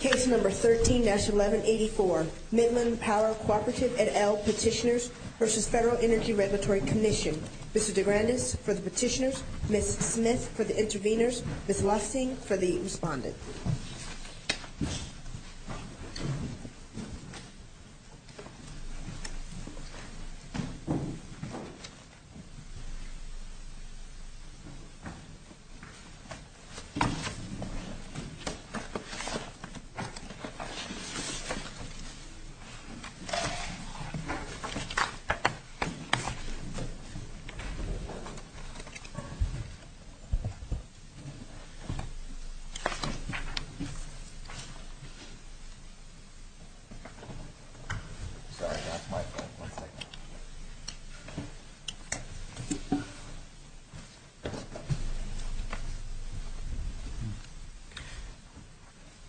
Case number 13-1184, Midland Power Cooperative et al. Petitioners v. Federal Energy Regulatory Commission Mr. DeGrandes for the petitioners, Ms. Smith for the interveners, Ms. Lussing for the respondent. Mr. DeGrandes, for the interveners, Ms. Smith, Mr. Lussing, Ms. Lussing, Ms. Smith.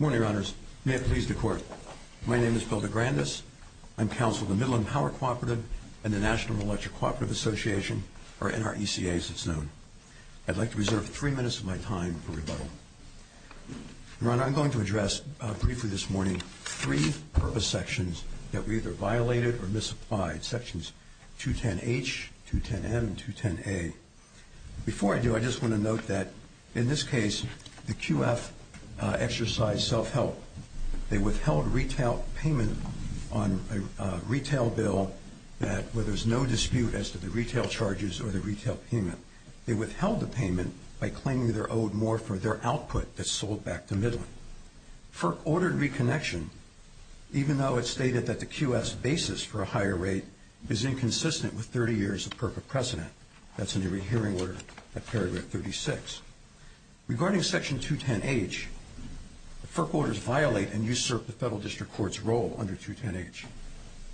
Good morning, Your Honors. May it please the Court, my name is Phil DeGrandes. I'm counsel of the Midland Power Cooperative and the National Electric Cooperative Association, or NRECA as it's known. I'd like to reserve three minutes of my time for rebuttal. Your Honor, I'm going to address briefly this morning three purpose sections that were either violated or misapplied, Sections 210H, 210M, and 210A. Before I do, I just want to note that in this case, the QF exercised self-help. They withheld retail payment on a retail bill where there's no dispute as to the retail charges or the retail payment. They withheld the payment by claiming they're owed more for their output that's sold back to Midland. FERC ordered reconnection, even though it stated that the QF's basis for a higher rate is inconsistent with 30 years of perfect precedent. That's in the rehearing order at Paragraph 36. Regarding Section 210H, the FERC orders violate and usurp the Federal District Court's role under 210H.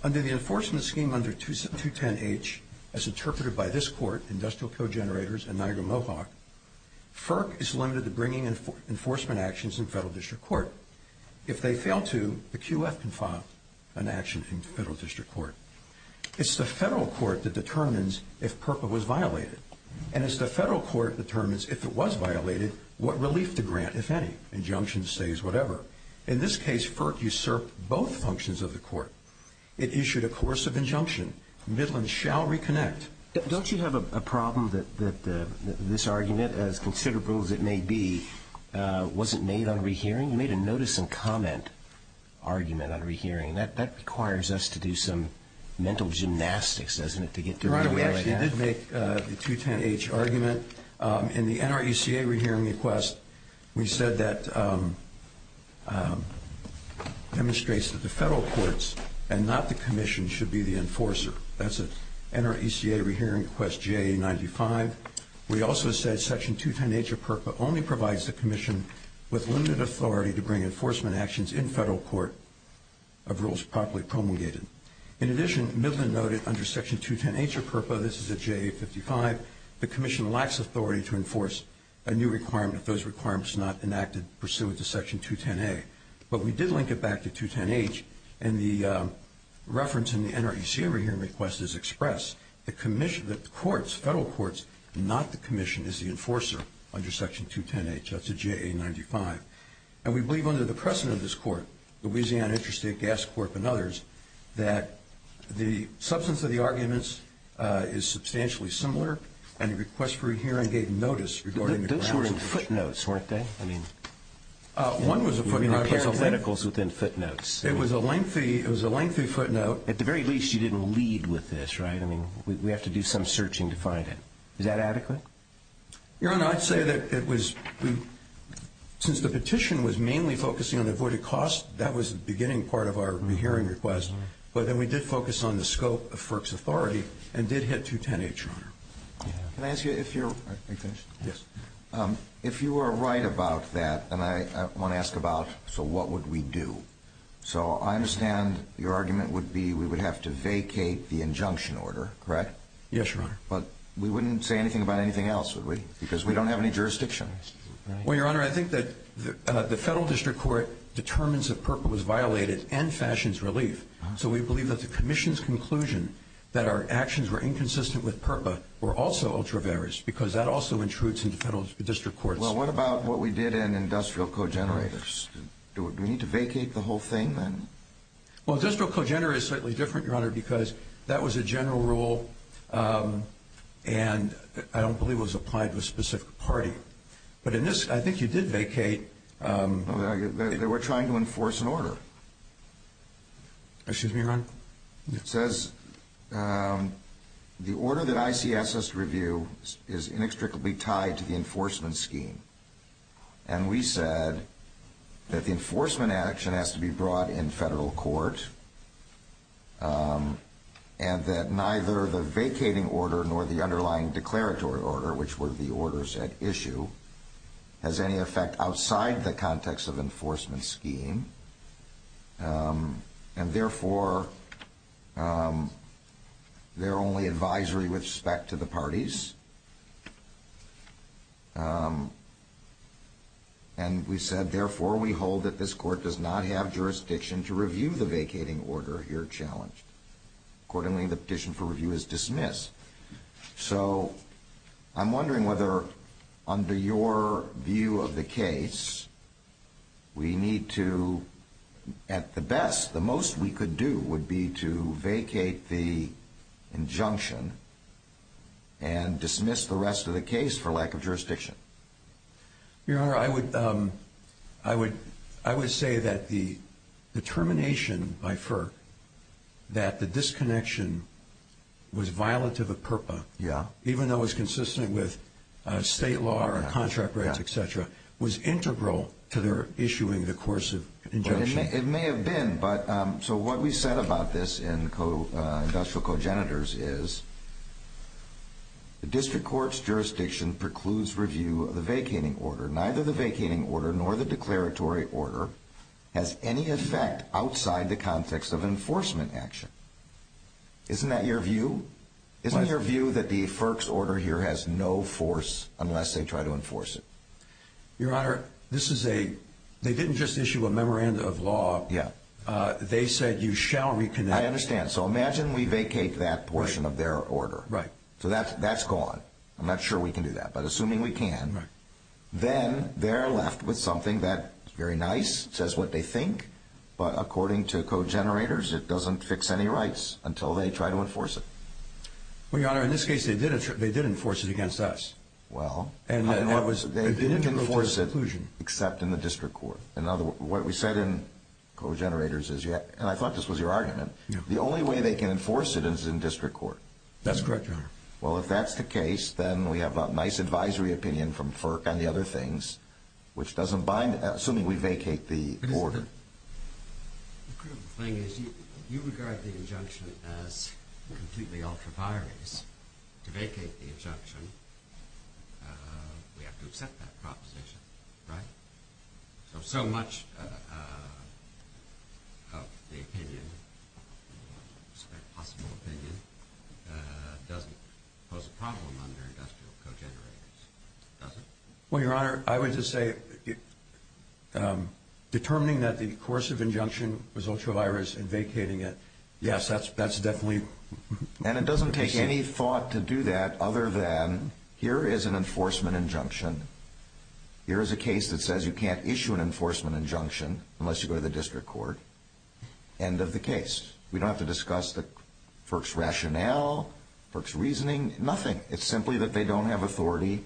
Under the enforcement scheme under 210H, as interpreted by this Court, Industrial Co-Generators, and Niagara Mohawk, FERC is limited to bringing enforcement actions in Federal District Court. If they fail to, the QF can file an action in Federal District Court. It's the Federal Court that determines if PRPA was violated, and it's the Federal Court that determines if it was violated, what relief to grant, if any. Injunctions, stays, whatever. In this case, FERC usurped both functions of the Court. It issued a coercive injunction. Midland shall reconnect. Don't you have a problem that this argument, as considerable as it may be, wasn't made on rehearing? You made a notice and comment argument on rehearing. That requires us to do some mental gymnastics, doesn't it, to get to where we are now? Your Honor, we actually did make the 210H argument. In the NRECA rehearing request, we said that demonstrates that the Federal Courts and not the Commission should be the enforcer. That's NRECA rehearing request JA95. We also said Section 210H of PRPA only provides the Commission with limited authority to bring enforcement actions in Federal Court of rules properly promulgated. In addition, Midland noted under Section 210H of PRPA, this is a JA55, the Commission lacks authority to enforce a new requirement if those requirements are not enacted pursuant to Section 210A. But we did link it back to 210H, and the reference in the NRECA rehearing request is expressed. The Commission, the courts, Federal Courts, and not the Commission is the enforcer under Section 210H. That's a JA95. And we believe under the precedent of this Court, Louisiana Interstate Gas Corp. and others, that the substance of the arguments is substantially similar, and the request for a hearing gave notice regarding the grounds. Those were in footnotes, weren't they? One was a footnote. There were articles within footnotes. It was a lengthy footnote. At the very least, you didn't lead with this, right? I mean, we have to do some searching to find it. Is that adequate? Your Honor, I'd say that it was, since the petition was mainly focusing on avoided costs, that was the beginning part of our rehearing request, but then we did focus on the scope of FERC's authority and did hit 210H, Your Honor. Can I ask you if you're, if you are right about that, and I want to ask about, so what would we do? So I understand your argument would be we would have to vacate the injunction order, correct? Yes, Your Honor. But we wouldn't say anything about anything else, would we? Because we don't have any jurisdiction. Well, Your Honor, I think that the federal district court determines that PERPA was violated and fashions relief. So we believe that the commission's conclusion that our actions were inconsistent with PERPA were also ultra-various because that also intrudes into federal district courts. Well, what about what we did in industrial co-generators? Do we need to vacate the whole thing then? Well, industrial co-generator is slightly different, Your Honor, because that was a general rule and I don't believe it was applied to a specific party. But in this, I think you did vacate. They were trying to enforce an order. Excuse me, Your Honor? It says the order that ICS has to review is inextricably tied to the enforcement scheme. And we said that the enforcement action has to be brought in federal court and that neither the vacating order nor the underlying declaratory order, which were the orders at issue, has any effect outside the context of enforcement scheme. And therefore, they're only advisory with respect to the parties. And we said, therefore, we hold that this court does not have jurisdiction to review the vacating order here challenged. Accordingly, the petition for review is dismissed. So I'm wondering whether under your view of the case, we need to, at the best, the most we could do would be to vacate the injunction and dismiss the rest of the case for lack of jurisdiction. Your Honor, I would say that the determination by FERC that the disconnection was violative of PURPA, even though it was consistent with state law or contract rights, et cetera, was integral to their issuing the course of injunction. It may have been. So what we said about this in industrial co-genitors is the district court's jurisdiction precludes review of the vacating order. Neither the vacating order nor the declaratory order has any effect outside the context of enforcement action. Isn't that your view? Isn't your view that the FERC's order here has no force unless they try to enforce it? Your Honor, this is a, they didn't just issue a memorandum of law. Yeah. They said you shall reconnect. I understand. So imagine we vacate that portion of their order. Right. So that's gone. I'm not sure we can do that. But assuming we can, then they're left with something that's very nice. It says what they think. But according to co-generators, it doesn't fix any rights until they try to enforce it. Well, Your Honor, in this case, they did enforce it against us. Well, they didn't enforce it except in the district court. What we said in co-generators is, and I thought this was your argument, the only way they can enforce it is in district court. That's correct, Your Honor. Well, if that's the case, then we have a nice advisory opinion from FERC on the other things, which doesn't bind, assuming we vacate the order. The thing is, you regard the injunction as completely ultra-biased. To vacate the injunction, we have to accept that proposition, right? So much of the opinion, possible opinion, doesn't pose a problem under industrial co-generators, does it? Well, Your Honor, I would just say determining that the course of injunction was ultra-biased and vacating it, yes, that's definitely. And it doesn't take any thought to do that other than here is an enforcement injunction. Here is a case that says you can't issue an enforcement injunction unless you go to the district court. End of the case. We don't have to discuss the FERC's rationale, FERC's reasoning, nothing. It's simply that they don't have authority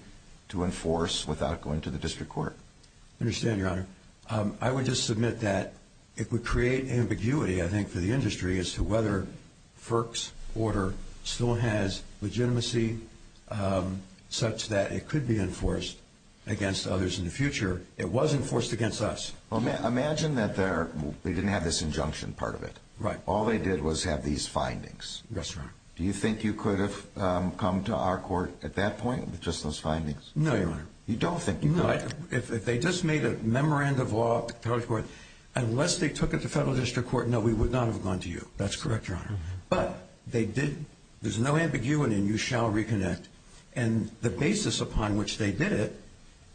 to enforce without going to the district court. I understand, Your Honor. I would just submit that it would create ambiguity, I think, for the industry as to whether FERC's order still has legitimacy such that it could be enforced against others in the future. It was enforced against us. Well, imagine that they didn't have this injunction part of it. Right. All they did was have these findings. That's right. Do you think you could have come to our court at that point with just those findings? No, Your Honor. You don't think you could? No. If they just made a memorandum of law to the federal court, unless they took it to federal district court, no, we would not have gone to you. That's correct, Your Honor. But they did. There's no ambiguity and you shall reconnect. And the basis upon which they did it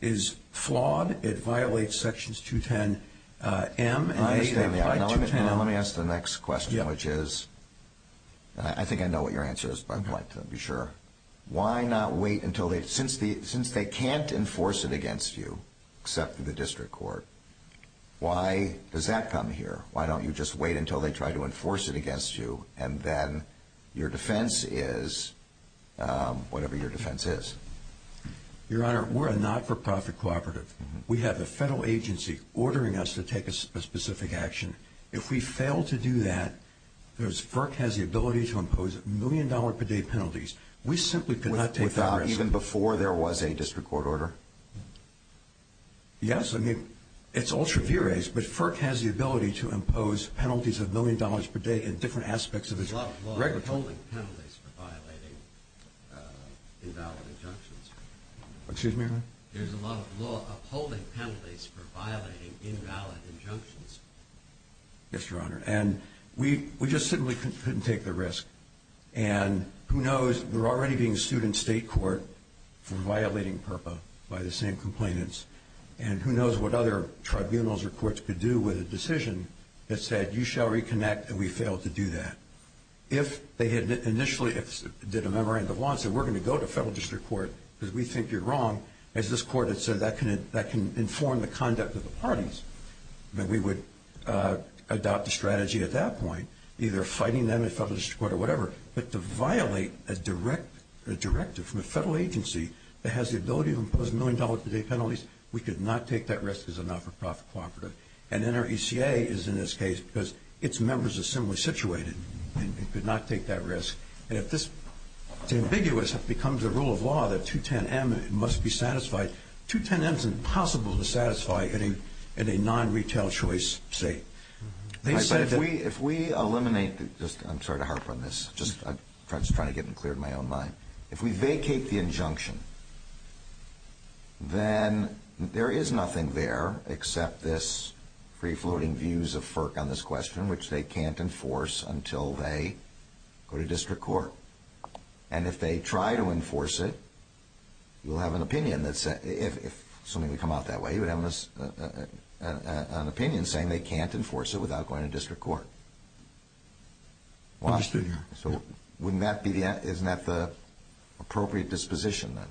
is flawed. It violates sections 210-M. I understand that. Let me ask the next question, which is, I think I know what your answer is, but I'd like to be sure. Why not wait until they, since they can't enforce it against you, except through the district court, why does that come here? Why don't you just wait until they try to enforce it against you and then your defense is whatever your defense is? Your Honor, we're a not-for-profit cooperative. We have a federal agency ordering us to take a specific action. If we fail to do that, because FERC has the ability to impose million-dollar-per-day penalties, we simply cannot take that risk. Even before there was a district court order? Yes. I mean, it's ultra-v-raised, but FERC has the ability to impose penalties of million-dollars-per-day in different aspects of its record. There's a lot of law withholding penalties for violating invalid injunctions. Excuse me, Your Honor? There's a lot of law upholding penalties for violating invalid injunctions. Yes, Your Honor. And we just simply couldn't take the risk. And who knows, we're already being sued in state court for violating PURPA by the same complainants, and who knows what other tribunals or courts could do with a decision that said, you shall reconnect, and we failed to do that. If they had initially did a memorandum of law and said, we're going to go to federal district court because we think you're wrong, as this court had said, that can inform the conduct of the parties, that we would adopt a strategy at that point, either fighting them in federal district court or whatever. But to violate a directive from a federal agency that has the ability to impose million-dollar-per-day penalties, we could not take that risk as a not-for-profit cooperative. And NRECA is in this case because its members are similarly situated and could not take that risk. And if this is ambiguous, it becomes a rule of law that 210-M must be satisfied. 210-M is impossible to satisfy in a non-retail choice state. If we eliminate the – I'm sorry to harp on this. I'm just trying to get it cleared in my own mind. If we vacate the injunction, then there is nothing there except this free-floating views of FERC on this question, which they can't enforce until they go to district court. And if they try to enforce it, you'll have an opinion that's – if something would come out that way, you would have an opinion saying they can't enforce it without going to district court. Understood, Your Honor. So wouldn't that be the – isn't that the appropriate disposition then?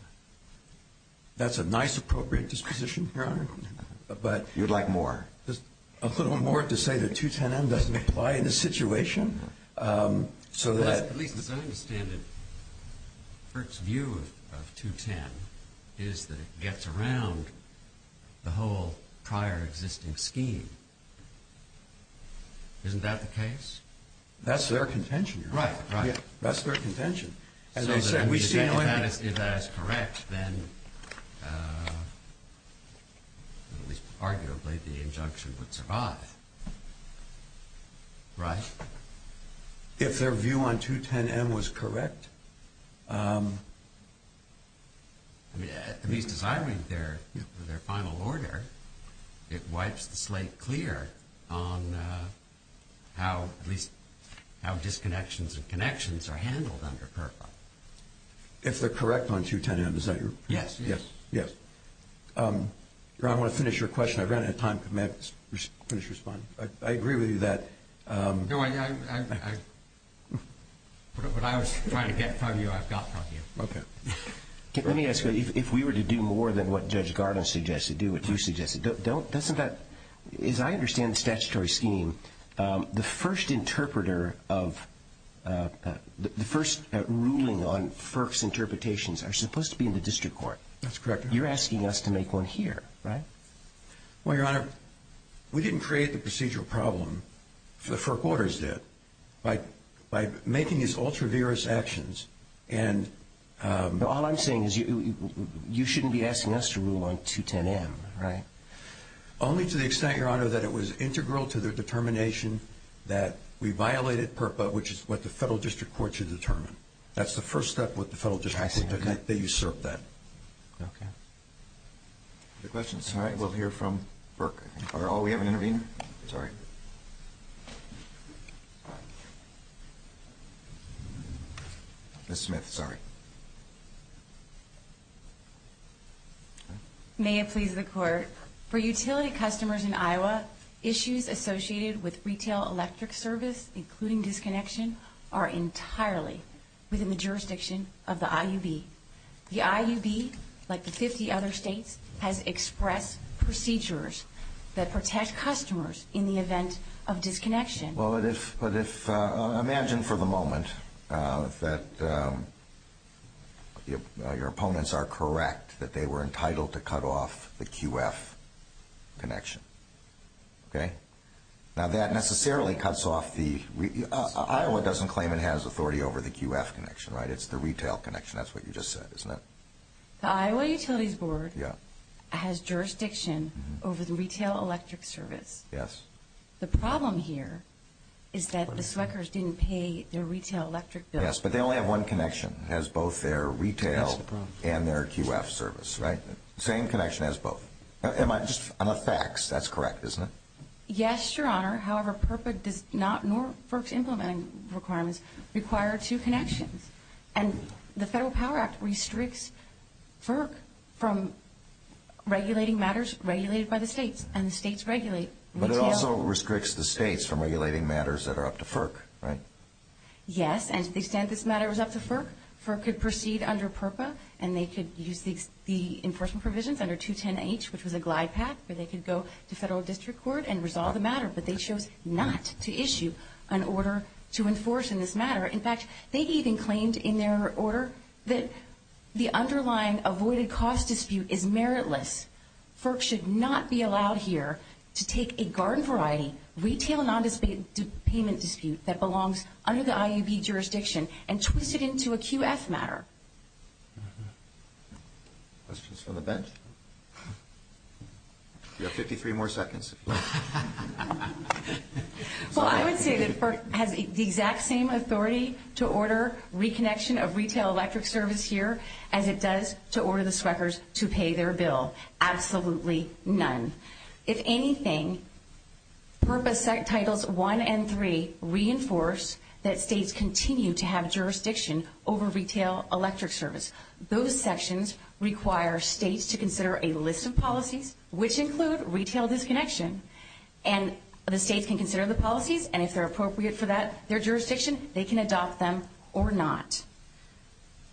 That's a nice, appropriate disposition, Your Honor. You'd like more? Just a little more to say that 210-M doesn't apply in this situation. At least as I understand it, FERC's view of 210 is that it gets around the whole prior existing scheme. Isn't that the case? That's their contention, Your Honor. Right, right. That's their contention. If that is correct, then arguably the injunction would survive, right? If their view on 210-M was correct? At least as I read their final order, it wipes the slate clear on how – If they're correct on 210-M, is that your – Yes, yes. Yes. Your Honor, I want to finish your question. I ran out of time. Could Matt finish responding? I agree with you that – No, I – what I was trying to get from you, I've got from you. Okay. Let me ask you, if we were to do more than what Judge Gardner suggested, do what you suggested, as I understand the statutory scheme, the first interpreter of – the first ruling on FERC's interpretations are supposed to be in the district court. That's correct, Your Honor. You're asking us to make one here, right? Well, Your Honor, we didn't create the procedural problem. The FERC orders did. By making these ultra-vigorous actions and – All I'm saying is you shouldn't be asking us to rule on 210-M, right? Only to the extent, Your Honor, that it was integral to their determination that we violated PERPA, which is what the federal district court should determine. That's the first step that the federal district court took. Okay. They usurped that. Okay. Other questions? All right. We'll hear from FERC. Are all – we have an intervener? Sorry. Ms. Smith. Sorry. May it please the Court, for utility customers in Iowa, issues associated with retail electric service, including disconnection, are entirely within the jurisdiction of the IUB. The IUB, like the 50 other states, has expressed procedures that protect customers in the event of disconnection. Well, but if – imagine for the moment that your opponents are correct, that they were entitled to cut off the QF connection. Okay? Now, that necessarily cuts off the – Iowa doesn't claim it has authority over the QF connection, right? It's the retail connection. That's what you just said, isn't it? The Iowa Utilities Board has jurisdiction over the retail electric service. Yes. The problem here is that the Sweckers didn't pay their retail electric bill. Yes, but they only have one connection. It has both their retail and their QF service, right? Same connection as both. Am I just – I'm a fax. That's correct, isn't it? Yes, Your Honor. However, FERPA does not, nor FERC's implementing requirements, require two connections. And the Federal Power Act restricts FERC from regulating matters regulated by the states, and the states regulate retail. But it also restricts the states from regulating matters that are up to FERC, right? Yes, and to the extent this matter was up to FERC, FERC could proceed under PERPA and they could use the enforcement provisions under 210H, which was a glide path where they could go to Federal District Court and resolve the matter. But they chose not to issue an order to enforce in this matter. In fact, they even claimed in their order that the underlying avoided cost dispute is meritless. FERC should not be allowed here to take a garden variety retail non-payment dispute that belongs under the IUB jurisdiction and twist it into a QF matter. Questions from the bench? You have 53 more seconds. Well, I would say that FERC has the exact same authority to order reconnection of retail electric service here as it does to order the Sweckers to pay their bill. Absolutely none. If anything, PERPA titles 1 and 3 reinforce that states continue to have jurisdiction over retail electric service. Those sections require states to consider a list of policies, which include retail disconnection, and the states can consider the policies, and if they're appropriate for that, their jurisdiction, they can adopt them or not.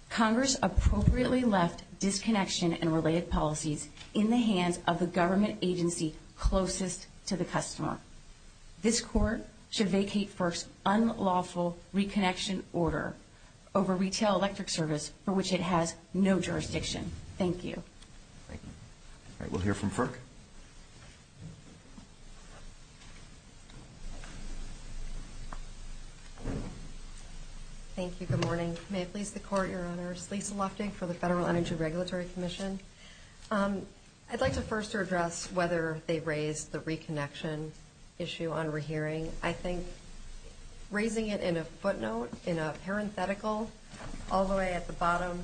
Congress appropriately left disconnection and related policies in the hands of the government agency closest to the customer. This court should vacate FERC's unlawful reconnection order over retail electric service for which it has no jurisdiction. Thank you. All right. We'll hear from FERC. Thank you. Good morning. May it please the Court, Your Honors. Lisa Lofting for the Federal Energy Regulatory Commission. I'd like to first address whether they raised the reconnection issue on rehearing. I think raising it in a footnote, in a parenthetical, all the way at the bottom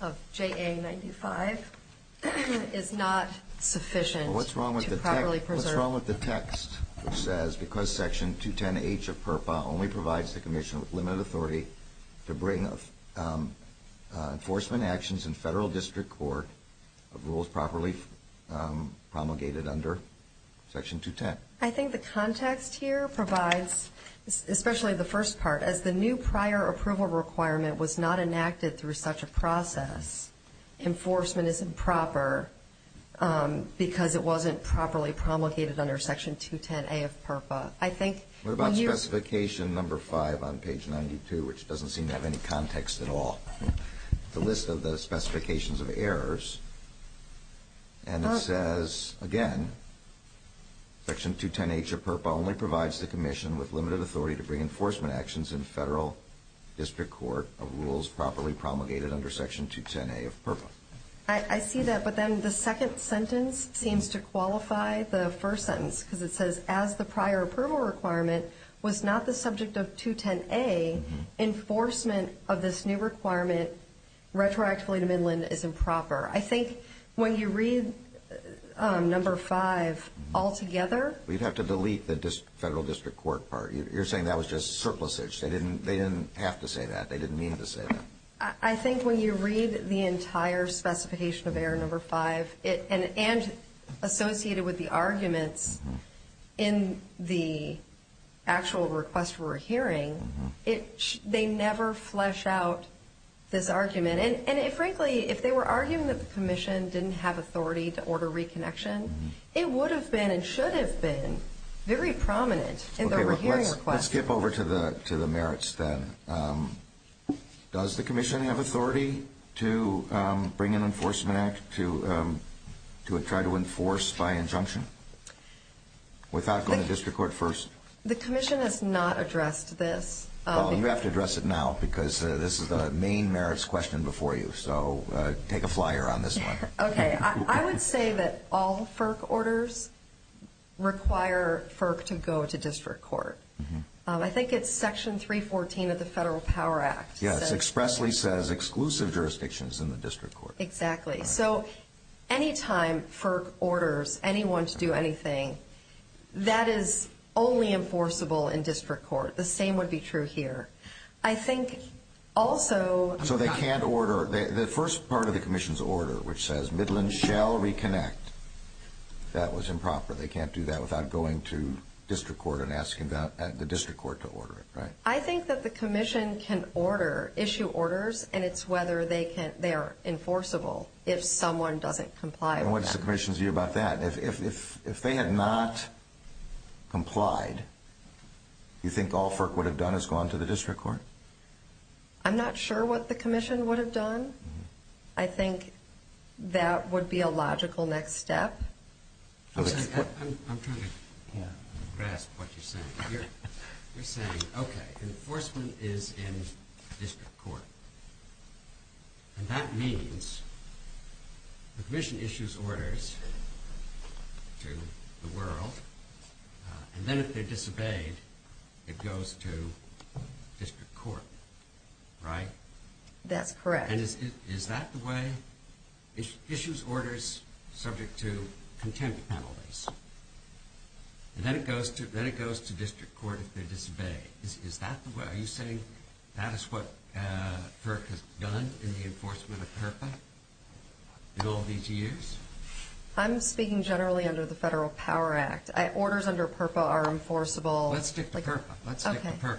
of JA-95 is not sufficient to properly preserve. What's wrong with the text that says, because Section 210H of PERPA only provides the commission with limited authority to bring enforcement actions in federal district court of rules properly promulgated under Section 210? I think the context here provides, especially the first part, as the new prior approval requirement was not enacted through such a process, enforcement is improper because it wasn't properly promulgated under Section 210A of PERPA. What about specification number 5 on page 92, which doesn't seem to have any context at all? The list of the specifications of errors, and it says, again, Section 210H of PERPA only provides the commission with limited authority to bring enforcement actions in federal district court of rules properly promulgated under Section 210A of PERPA. I see that, but then the second sentence seems to qualify the first sentence, because it says, as the prior approval requirement was not the subject of 210A, enforcement of this new requirement retroactively to Midland is improper. I think when you read number 5 altogether— We'd have to delete the federal district court part. You're saying that was just surplusage. They didn't have to say that. They didn't mean to say that. I think when you read the entire specification of error number 5, and associated with the arguments in the actual request for a hearing, they never flesh out this argument. And frankly, if they were arguing that the commission didn't have authority to order reconnection, it would have been and should have been very prominent in the hearing request. Let's skip over to the merits then. Does the commission have authority to bring an enforcement act to try to enforce by injunction without going to district court first? The commission has not addressed this. You have to address it now because this is the main merits question before you, so take a flyer on this one. Okay. I would say that all FERC orders require FERC to go to district court. I think it's Section 314 of the Federal Power Act. Yes, it expressly says exclusive jurisdictions in the district court. Exactly. So any time FERC orders anyone to do anything, that is only enforceable in district court. The same would be true here. I think also— So they can't order. The first part of the commission's order, which says Midland shall reconnect, that was improper. They can't do that without going to district court and asking the district court to order it, right? I think that the commission can issue orders, and it's whether they are enforceable if someone doesn't comply with them. What's the commission's view about that? If they had not complied, do you think all FERC would have done is gone to the district court? I'm not sure what the commission would have done. I think that would be a logical next step. I'm trying to grasp what you're saying. You're saying, okay, enforcement is in district court, and that means the commission issues orders to the world, and then if they disobeyed, it goes to district court, right? That's correct. And is that the way—issues orders subject to contempt penalties, and then it goes to district court if they disobey. Is that the way—are you saying that is what FERC has done in the enforcement of PURPA in all these years? I'm speaking generally under the Federal Power Act. Orders under PURPA are enforceable. Let's stick to PURPA. Let's stick to PURPA.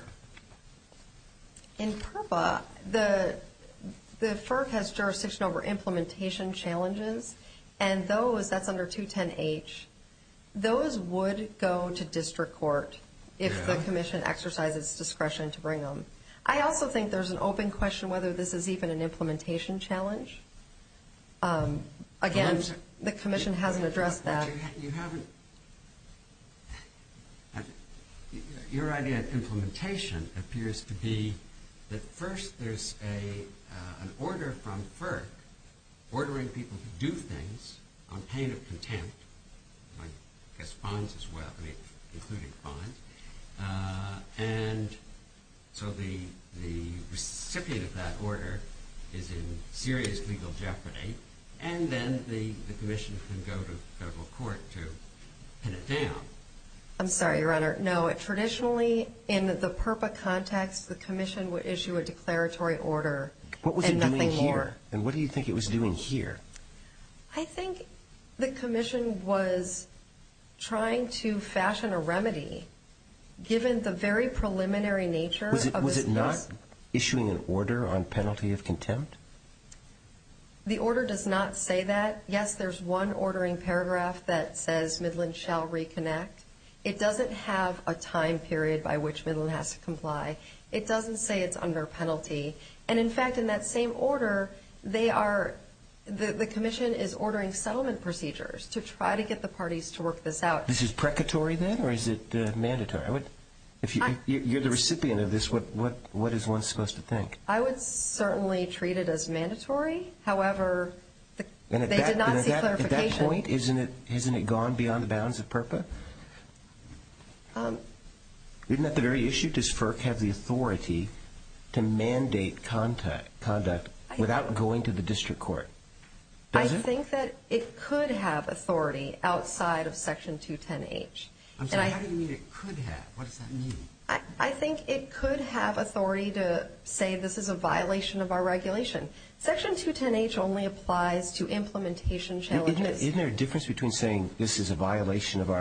In PURPA, the FERC has jurisdiction over implementation challenges, and those—that's under 210H. Those would go to district court if the commission exercised its discretion to bring them. I also think there's an open question whether this is even an implementation challenge. Again, the commission hasn't addressed that. Your idea of implementation appears to be that first there's an order from FERC ordering people to do things on pain of contempt, I guess fines as well, including fines. And so the recipient of that order is in serious legal jeopardy, and then the commission can go to federal court to pin it down. I'm sorry, Your Honor. No, traditionally in the PURPA context, the commission would issue a declaratory order and nothing more. And what do you think it was doing here? I think the commission was trying to fashion a remedy given the very preliminary nature of this case. Was it not issuing an order on penalty of contempt? The order does not say that. Yes, there's one ordering paragraph that says Midland shall reconnect. It doesn't have a time period by which Midland has to comply. It doesn't say it's under penalty. And, in fact, in that same order, they are the commission is ordering settlement procedures to try to get the parties to work this out. This is precatory then, or is it mandatory? If you're the recipient of this, what is one supposed to think? I would certainly treat it as mandatory. However, they did not see clarification. And at that point, isn't it gone beyond the bounds of PURPA? Isn't that the very issue? Does FERC have the authority to mandate conduct without going to the district court? Does it? I think that it could have authority outside of Section 210H. I'm sorry, how do you mean it could have? What does that mean? I think it could have authority to say this is a violation of our regulation. Section 210H only applies to implementation challenges. Isn't there a difference between saying this is a violation of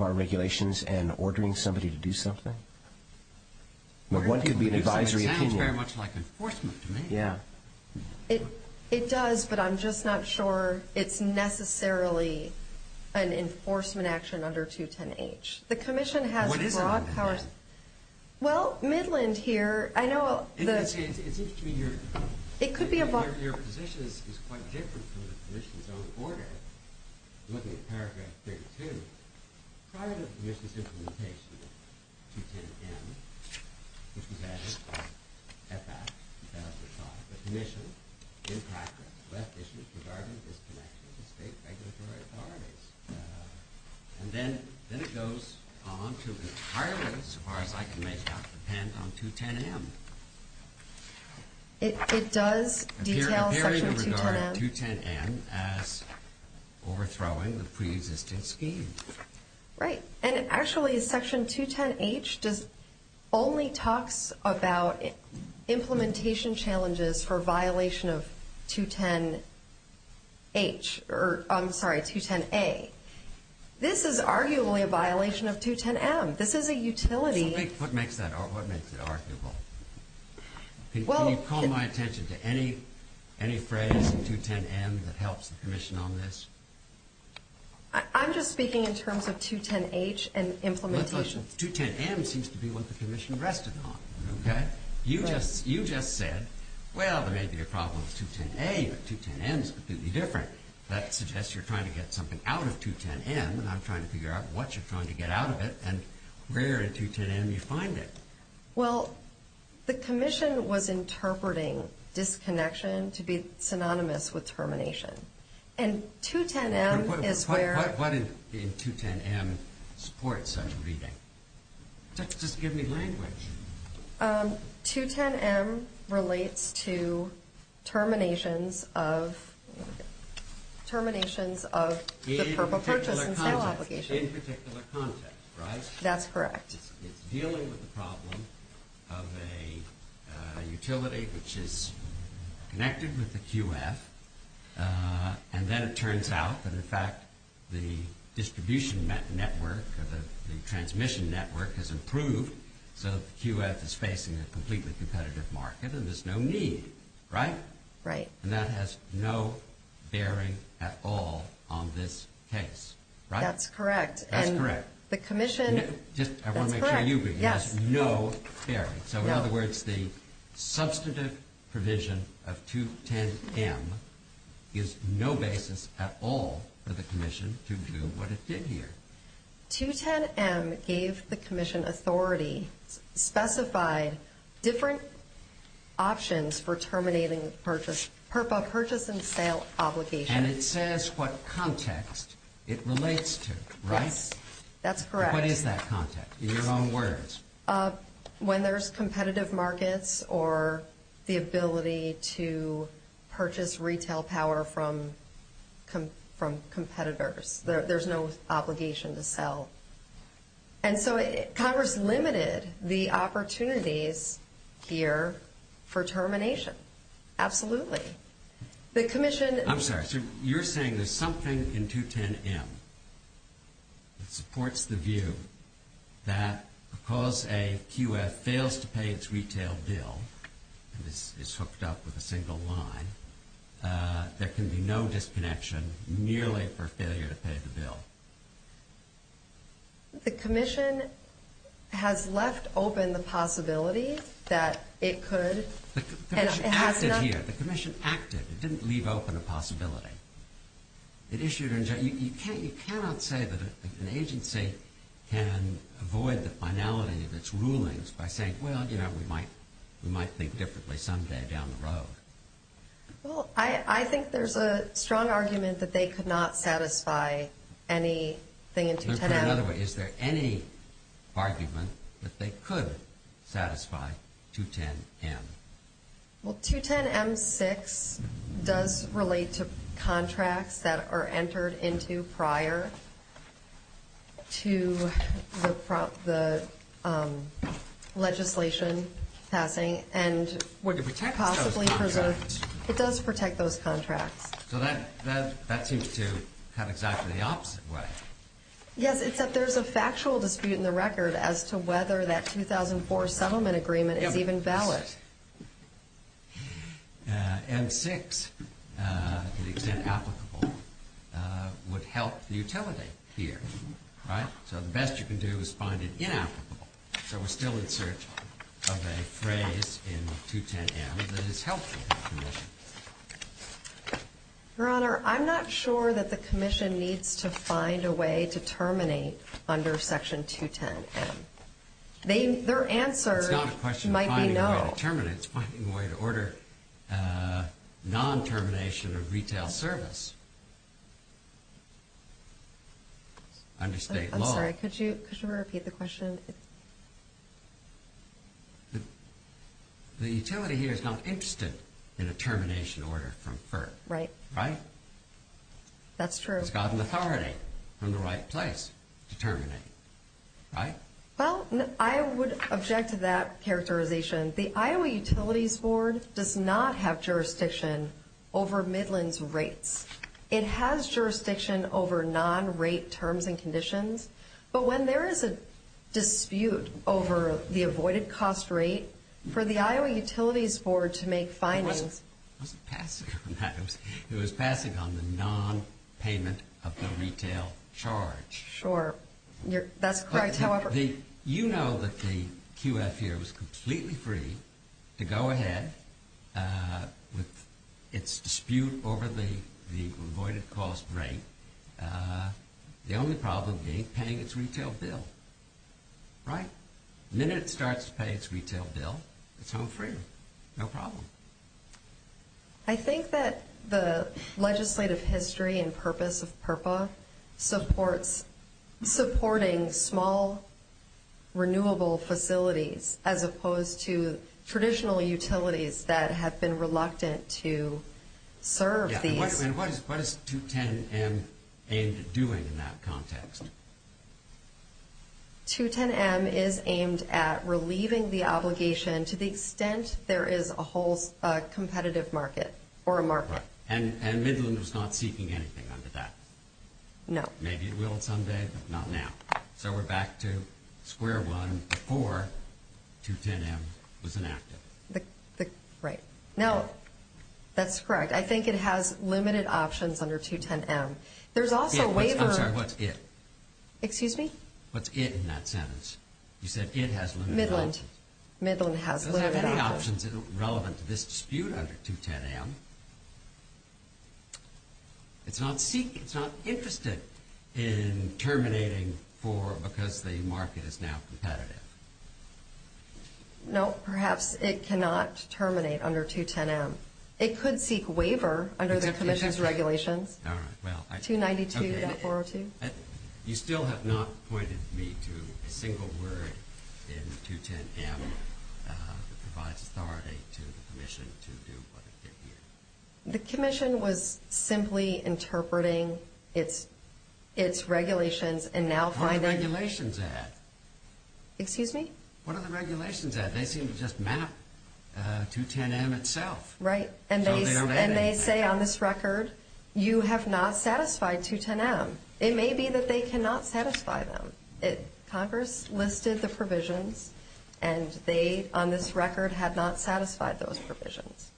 our regulations and ordering somebody to do something? One could be an advisory opinion. It sounds very much like enforcement to me. Yeah. It does, but I'm just not sure it's necessarily an enforcement action under 210H. The commission has broad powers. What is it? Well, Midland here, I know the— It could be about— Your position is quite different from the commission's own order. Looking at Paragraph 32, prior to the commission's implementation of 210M, which was added by FAC 2005, the commission in practice left issues regarding disconnections with state regulatory authorities. And then it goes on to entirely, as far as I can make out, depend on 210M. It does detail Section 210M. Appearing to regard 210M as overthrowing the pre-existing scheme. Right. And actually, Section 210H only talks about implementation challenges for violation of 210H— I'm sorry, 210A. This is arguably a violation of 210M. This is a utility. What makes it arguable? Can you call my attention to any phrase in 210M that helps the commission on this? I'm just speaking in terms of 210H and implementation. 210M seems to be what the commission rested on, okay? You just said, well, there may be a problem with 210A, but 210M is completely different. That suggests you're trying to get something out of 210M, and I'm trying to figure out what you're trying to get out of it and where in 210M you find it. Well, the commission was interpreting disconnection to be synonymous with termination. And 210M is where— What in 210M supports such reading? Just give me language. 210M relates to terminations of the purple purchase and sale obligation. In particular context, right? That's correct. It's dealing with the problem of a utility which is connected with the QF, and then it turns out that in fact the distribution network or the transmission network has improved so that the QF is facing a completely competitive market and there's no need, right? Right. And that has no bearing at all on this case, right? That's correct. That's correct. The commission— I want to make sure you agree. Yes. It has no bearing. So in other words, the substantive provision of 210M is no basis at all for the commission to do what it did here. 210M gave the commission authority, specified different options for terminating the purple purchase and sale obligation. And it says what context it relates to, right? Yes. That's correct. What is that context in your own words? When there's competitive markets or the ability to purchase retail power from competitors. There's no obligation to sell. And so Congress limited the opportunities here for termination. Absolutely. The commission— I'm sorry. You're saying there's something in 210M that supports the view that because a QF fails to pay its retail bill and is hooked up with a single line, there can be no disconnection merely for failure to pay the bill. The commission has left open the possibility that it could— The commission acted here. The commission acted. It didn't leave open a possibility. It issued—you cannot say that an agency can avoid the finality of its rulings by saying, well, you know, we might think differently someday down the road. Well, I think there's a strong argument that they could not satisfy anything in 210M. Let me put it another way. Is there any argument that they could satisfy 210M? Well, 210M-6 does relate to contracts that are entered into prior to the legislation passing and— Well, it protects those contracts. It does protect those contracts. So that seems to have exactly the opposite way. Yes, it's that there's a factual dispute in the record as to whether that 2004 settlement agreement is even valid. M-6, to the extent applicable, would help the utility here, right? So the best you can do is find it inapplicable. So we're still in search of a phrase in 210M that is helpful to the commission. Your Honor, I'm not sure that the commission needs to find a way to terminate under Section 210M. Their answer might be no. It's not a question of finding a way to terminate. It's finding a way to order non-termination of retail service under state law. Could you repeat the question? The utility here is not interested in a termination order from FERC, right? That's true. It's got an authority from the right place to terminate, right? Well, I would object to that characterization. The Iowa Utilities Board does not have jurisdiction over Midland's rates. It has jurisdiction over non-rate terms and conditions. But when there is a dispute over the avoided cost rate, for the Iowa Utilities Board to make findings — It wasn't passing on that. It was passing on the non-payment of the retail charge. Sure. That's correct, however — You know that the QF here was completely free to go ahead with its dispute over the avoided cost rate. The only problem being paying its retail bill, right? The minute it starts to pay its retail bill, it's home free. No problem. I think that the legislative history and purpose of PURPA supports supporting small, renewable facilities as opposed to traditional utilities that have been reluctant to serve these — And what is 210M aimed at doing in that context? 210M is aimed at relieving the obligation to the extent there is a whole competitive market or a market. And Midland was not seeking anything under that. No. Maybe it will someday, but not now. So we're back to square one before 210M was enacted. Right. Now, that's correct. I think it has limited options under 210M. There's also waiver — I'm sorry. What's it? Excuse me? What's it in that sentence? You said it has limited options. Midland. Midland has limited options. It doesn't have any options relevant to this dispute under 210M. It's not interested in terminating because the market is now competitive. No, perhaps it cannot terminate under 210M. It could seek waiver under the Commission's regulations. All right. 292.402. You still have not pointed me to a single word in 210M that provides authority to the Commission to do what it did here. The Commission was simply interpreting its regulations and now finding — What are the regulations at? Excuse me? What are the regulations at? They seem to just map 210M itself. Right. And they say on this record, you have not satisfied 210M. It may be that they cannot satisfy them. Congress listed the provisions, and they, on this record, had not satisfied those provisions.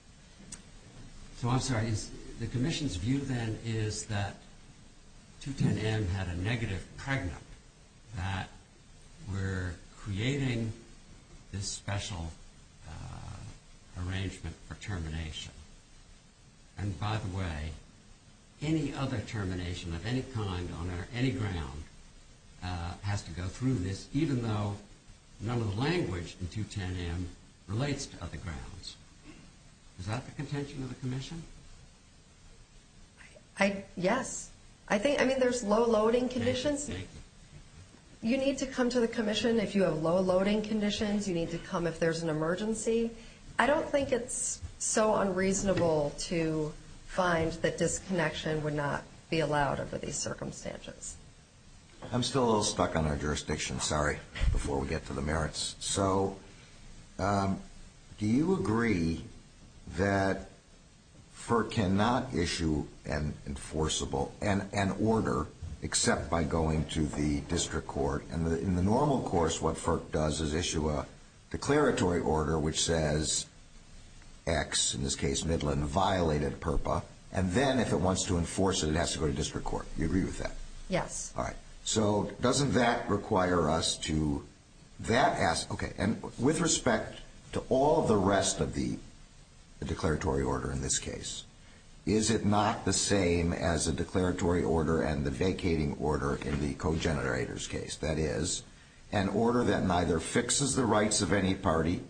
So I'm sorry. The Commission's view, then, is that 210M had a negative pregnant, that we're creating this special arrangement for termination. And, by the way, any other termination of any kind on any ground has to go through this, even though none of the language in 210M relates to other grounds. Is that the contention of the Commission? Yes. I mean, there's low-loading conditions. You need to come to the Commission if you have low-loading conditions. You need to come if there's an emergency. I don't think it's so unreasonable to find that disconnection would not be allowed under these circumstances. I'm still a little stuck on our jurisdiction. Sorry, before we get to the merits. So do you agree that FERC cannot issue an enforceable — an order except by going to the district court? And in the normal course, what FERC does is issue a declaratory order which says X, in this case Midland, violated PURPA. And then, if it wants to enforce it, it has to go to district court. Do you agree with that? Yes. All right. So doesn't that require us to — that asks — okay. And with respect to all the rest of the declaratory order in this case, is it not the same as a declaratory order and the vacating order in the co-generators case? That is, an order that neither fixes the rights of any party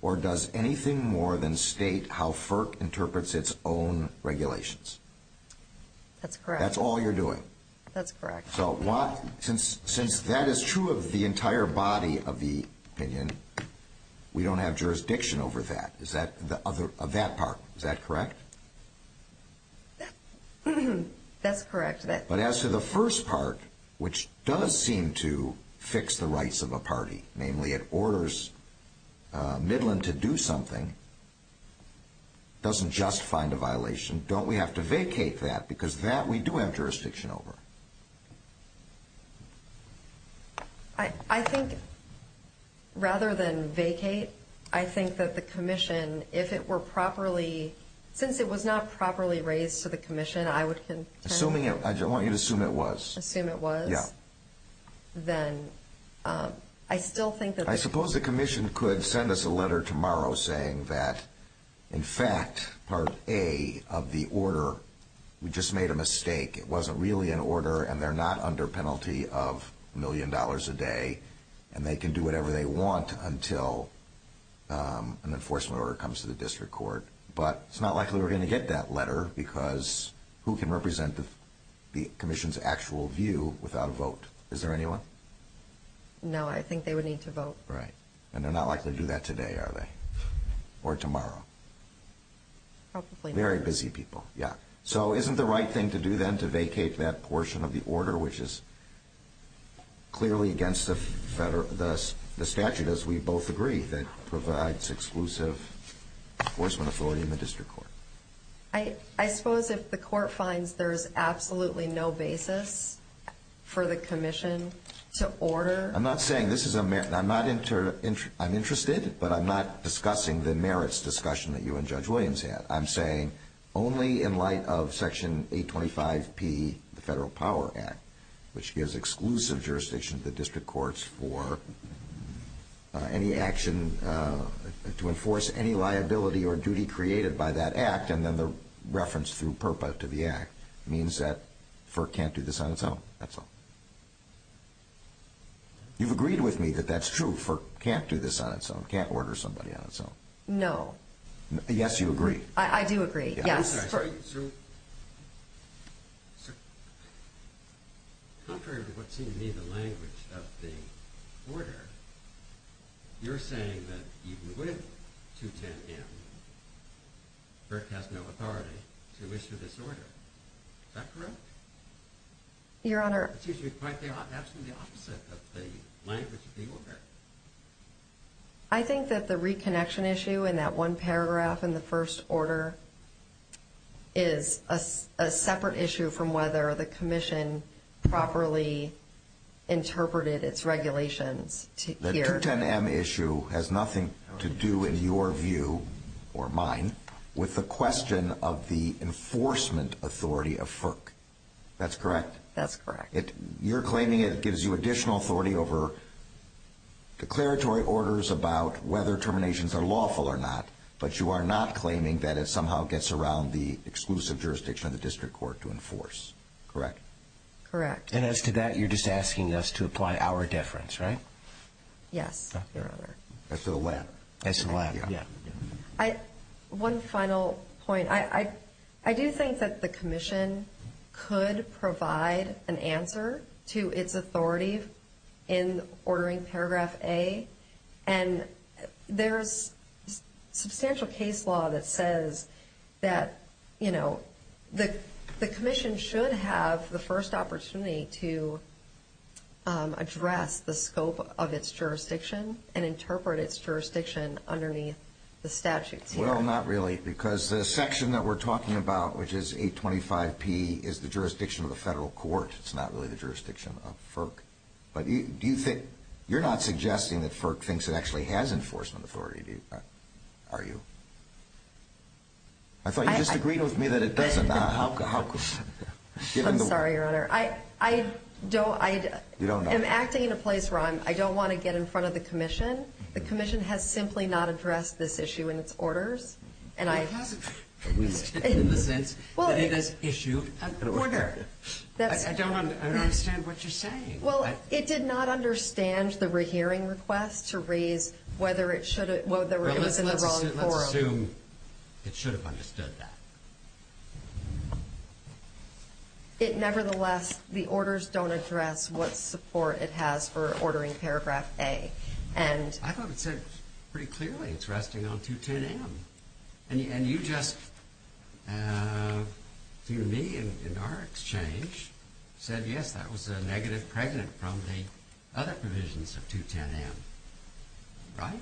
or does anything more than state how FERC interprets its own regulations. That's correct. That's all you're doing. That's correct. So why — since that is true of the entire body of the opinion, we don't have jurisdiction over that. Is that — of that part, is that correct? That's correct. But as to the first part, which does seem to fix the rights of a party, namely it orders Midland to do something, doesn't just find a violation. Don't we have to vacate that? Because that we do have jurisdiction over. I think rather than vacate, I think that the commission, if it were properly — since it was not properly raised to the commission, I would contend — Assuming it — I want you to assume it was. Assume it was? Yeah. Then I still think that — I suppose the commission could send us a letter tomorrow saying that, in fact, part A of the order, we just made a mistake, it wasn't really an order, and they're not under penalty of a million dollars a day, and they can do whatever they want until an enforcement order comes to the district court. But it's not likely we're going to get that letter because who can represent the commission's actual view without a vote? Is there anyone? No. No, I think they would need to vote. Right. And they're not likely to do that today, are they? Or tomorrow? Probably not. Very busy people. Yeah. So isn't the right thing to do then to vacate that portion of the order, which is clearly against the statute, as we both agree, that provides exclusive enforcement authority in the district court? I suppose if the court finds there's absolutely no basis for the commission to order — I'm not saying this is a — I'm not — I'm interested, but I'm not discussing the merits discussion that you and Judge Williams had. I'm saying only in light of Section 825P, the Federal Power Act, which gives exclusive jurisdiction to the district courts for any action to enforce any liability or duty created by that act, and then the reference through PURPA to the act means that FERC can't do this on its own. That's all. You've agreed with me that that's true. FERC can't do this on its own, can't order somebody on its own. No. Yes, you agree. I do agree. Yes. I'm sorry. Sir. Sir. Contrary to what seems to be the language of the order, you're saying that even with 210M, FERC has no authority to issue this order. Is that correct? Your Honor — It seems to be quite the — absolutely the opposite of the language of the order. I think that the reconnection issue in that one paragraph in the first order is a separate issue from whether the commission properly interpreted its regulations. The 210M issue has nothing to do, in your view, or mine, with the question of the enforcement authority of FERC. That's correct? That's correct. You're claiming it gives you additional authority over declaratory orders about whether terminations are lawful or not, but you are not claiming that it somehow gets around the exclusive jurisdiction of the district court to enforce. Correct? Correct. And as to that, you're just asking us to apply our deference, right? Yes, Your Honor. As to the latter. As to the latter, yeah. One final point. I do think that the commission could provide an answer to its authority in ordering Paragraph A. And there's substantial case law that says that, you know, the commission should have the first opportunity to address the scope of its jurisdiction and interpret its jurisdiction underneath the statutes here. Well, not really, because the section that we're talking about, which is 825P, is the jurisdiction of the federal court. It's not really the jurisdiction of FERC. But you're not suggesting that FERC thinks it actually has enforcement authority, are you? I thought you just agreed with me that it doesn't. I'm sorry, Your Honor. I am acting in a place where I don't want to get in front of the commission. The commission has simply not addressed this issue in its orders. Well, it hasn't in the sense that it has issued an order. I don't understand what you're saying. Well, it did not understand the rehearing request to raise whether it was in the wrong forum. Well, let's assume it should have understood that. Nevertheless, the orders don't address what support it has for ordering Paragraph A. I thought it said pretty clearly it's resting on 210M. And you just, through me and our exchange, said, yes, that was a negative pregnant from the other provisions of 210M. Right?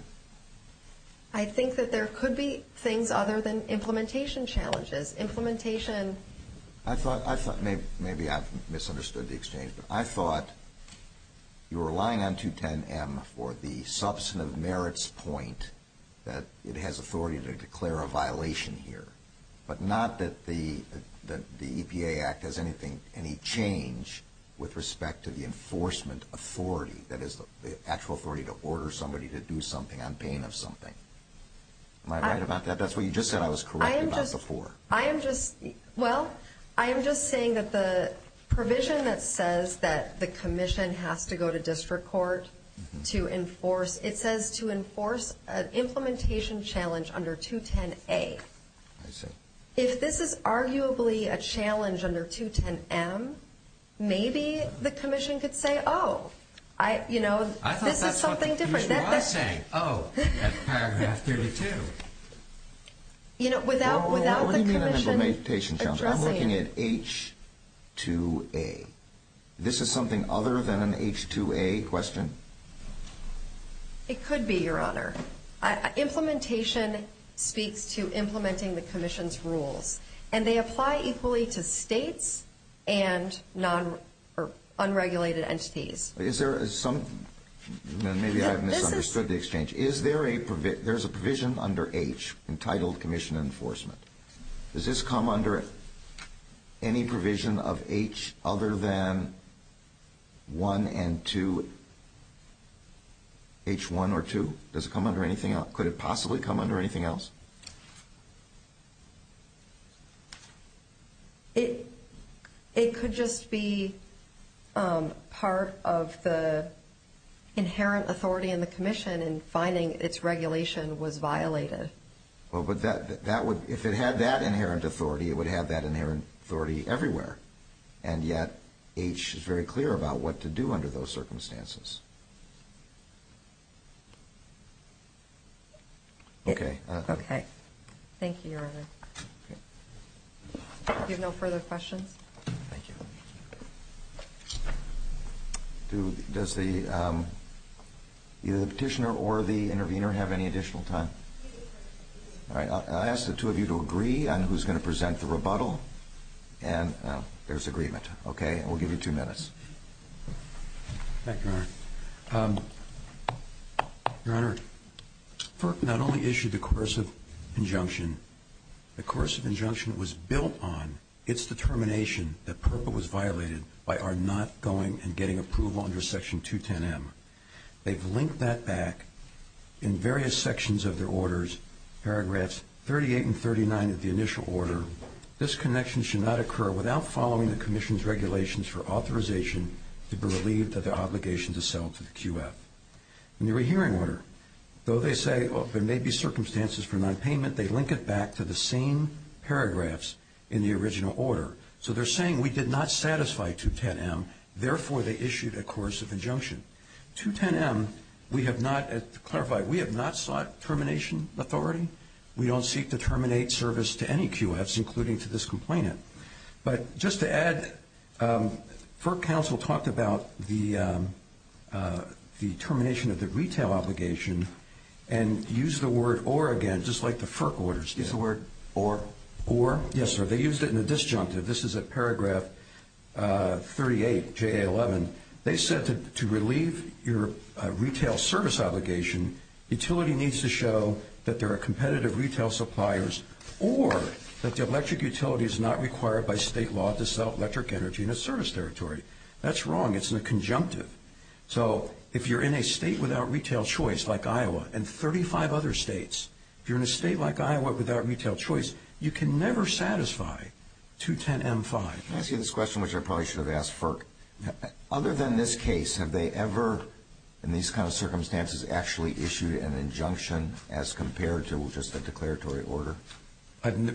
I think that there could be things other than implementation challenges. Implementation. I thought maybe I misunderstood the exchange. I thought you were relying on 210M for the substantive merits point that it has authority to declare a violation here, but not that the EPA Act has any change with respect to the enforcement authority, that is, the actual authority to order somebody to do something on pain of something. Am I right about that? That's what you just said I was correct about before. I am just, well, I am just saying that the provision that says that the commission has to go to district court to enforce, it says to enforce an implementation challenge under 210A. I see. If this is arguably a challenge under 210M, maybe the commission could say, oh, you know, this is something different. I thought that's what the commission was saying, oh, at Paragraph 32. You know, without the commission addressing it. What do you mean an implementation challenge? I am looking at H2A. This is something other than an H2A question? It could be, Your Honor. Implementation speaks to implementing the commission's rules, and they apply equally to states and unregulated entities. Is there some, maybe I misunderstood the exchange. Is there a provision under H entitled commission enforcement? Does this come under any provision of H other than 1 and 2, H1 or 2? Does it come under anything else? Could it possibly come under anything else? It could just be part of the inherent authority in the commission in finding its regulation was violated. Well, but that would, if it had that inherent authority, it would have that inherent authority everywhere. And yet H is very clear about what to do under those circumstances. Okay. Okay. Thank you, Your Honor. If you have no further questions. Thank you. Does the petitioner or the intervener have any additional time? All right. I'll ask the two of you to agree on who's going to present the rebuttal. And there's agreement. Okay. We'll give you two minutes. Thank you, Your Honor. Your Honor, FERC not only issued the coercive injunction, the coercive injunction was built on its determination that PURPA was violated by our not going and getting approval under Section 210M. They've linked that back in various sections of their orders, paragraphs 38 and 39 of the initial order. This connection should not occur without following the commission's regulations for authorization to be relieved of the obligation to sell to the QF. In the rehearing order, though they say there may be circumstances for nonpayment, they link it back to the same paragraphs in the original order. So they're saying we did not satisfy 210M, therefore they issued a coercive injunction. 210M, we have not, to clarify, we have not sought termination authority. We don't seek to terminate service to any QFs, including to this complainant. But just to add, FERC counsel talked about the termination of the retail obligation and used the word or again, just like the FERC orders did. Yes, the word or. Or. Yes, sir. They used it in a disjunctive. This is at paragraph 38, JA11. They said to relieve your retail service obligation, utility needs to show that there are competitive retail suppliers or that the electric utility is not required by state law to sell electric energy in a service territory. That's wrong. It's in a conjunctive. So if you're in a state without retail choice like Iowa and 35 other states, if you're in a state like Iowa without retail choice, you can never satisfy 210M-5. Can I ask you this question, which I probably should have asked FERC? Other than this case, have they ever, in these kind of circumstances, actually issued an injunction as compared to just a declaratory order?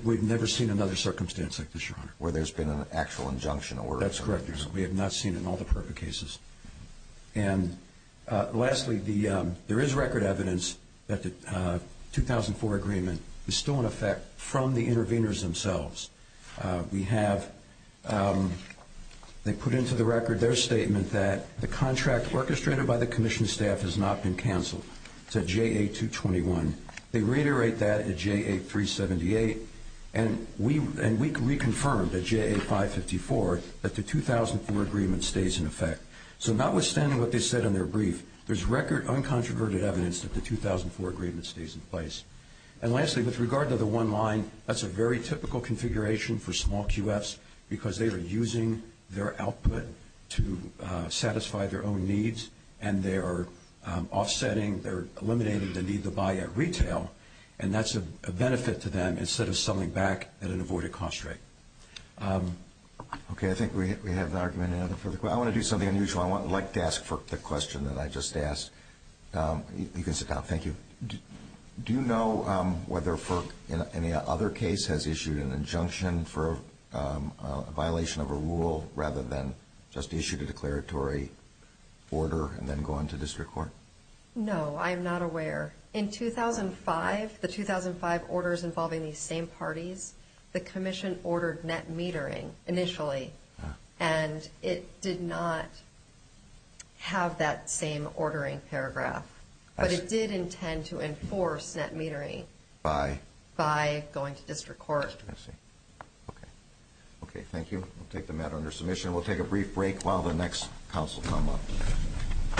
We've never seen another circumstance like this, Your Honor. Where there's been an actual injunction order. That's correct, Your Honor. We have not seen it in all the perfect cases. And lastly, there is record evidence that the 2004 agreement is still in effect from the interveners themselves. They put into the record their statement that the contract orchestrated by the commission staff has not been canceled. It's at JA-221. They reiterate that at JA-378. And we confirmed at JA-554 that the 2004 agreement stays in effect. So notwithstanding what they said in their brief, there's record uncontroverted evidence that the 2004 agreement stays in place. And lastly, with regard to the one line, that's a very typical configuration for small QFs because they are using their output to satisfy their own needs and they are offsetting, they're eliminating the need to buy at retail. And that's a benefit to them instead of selling back at an avoided cost rate. Okay. I think we have an argument. I want to do something unusual. I'd like to ask FERC the question that I just asked. You can sit down. Thank you. Do you know whether FERC in any other case has issued an injunction for a violation of a rule rather than just issued a declaratory order and then gone to district court? No, I am not aware. In 2005, the 2005 orders involving these same parties, the commission ordered net metering initially. And it did not have that same ordering paragraph. But it did intend to enforce net metering by going to district court. I see. Okay. Okay, thank you. We'll take the matter under submission. We'll take a brief break while the next counsel comes up.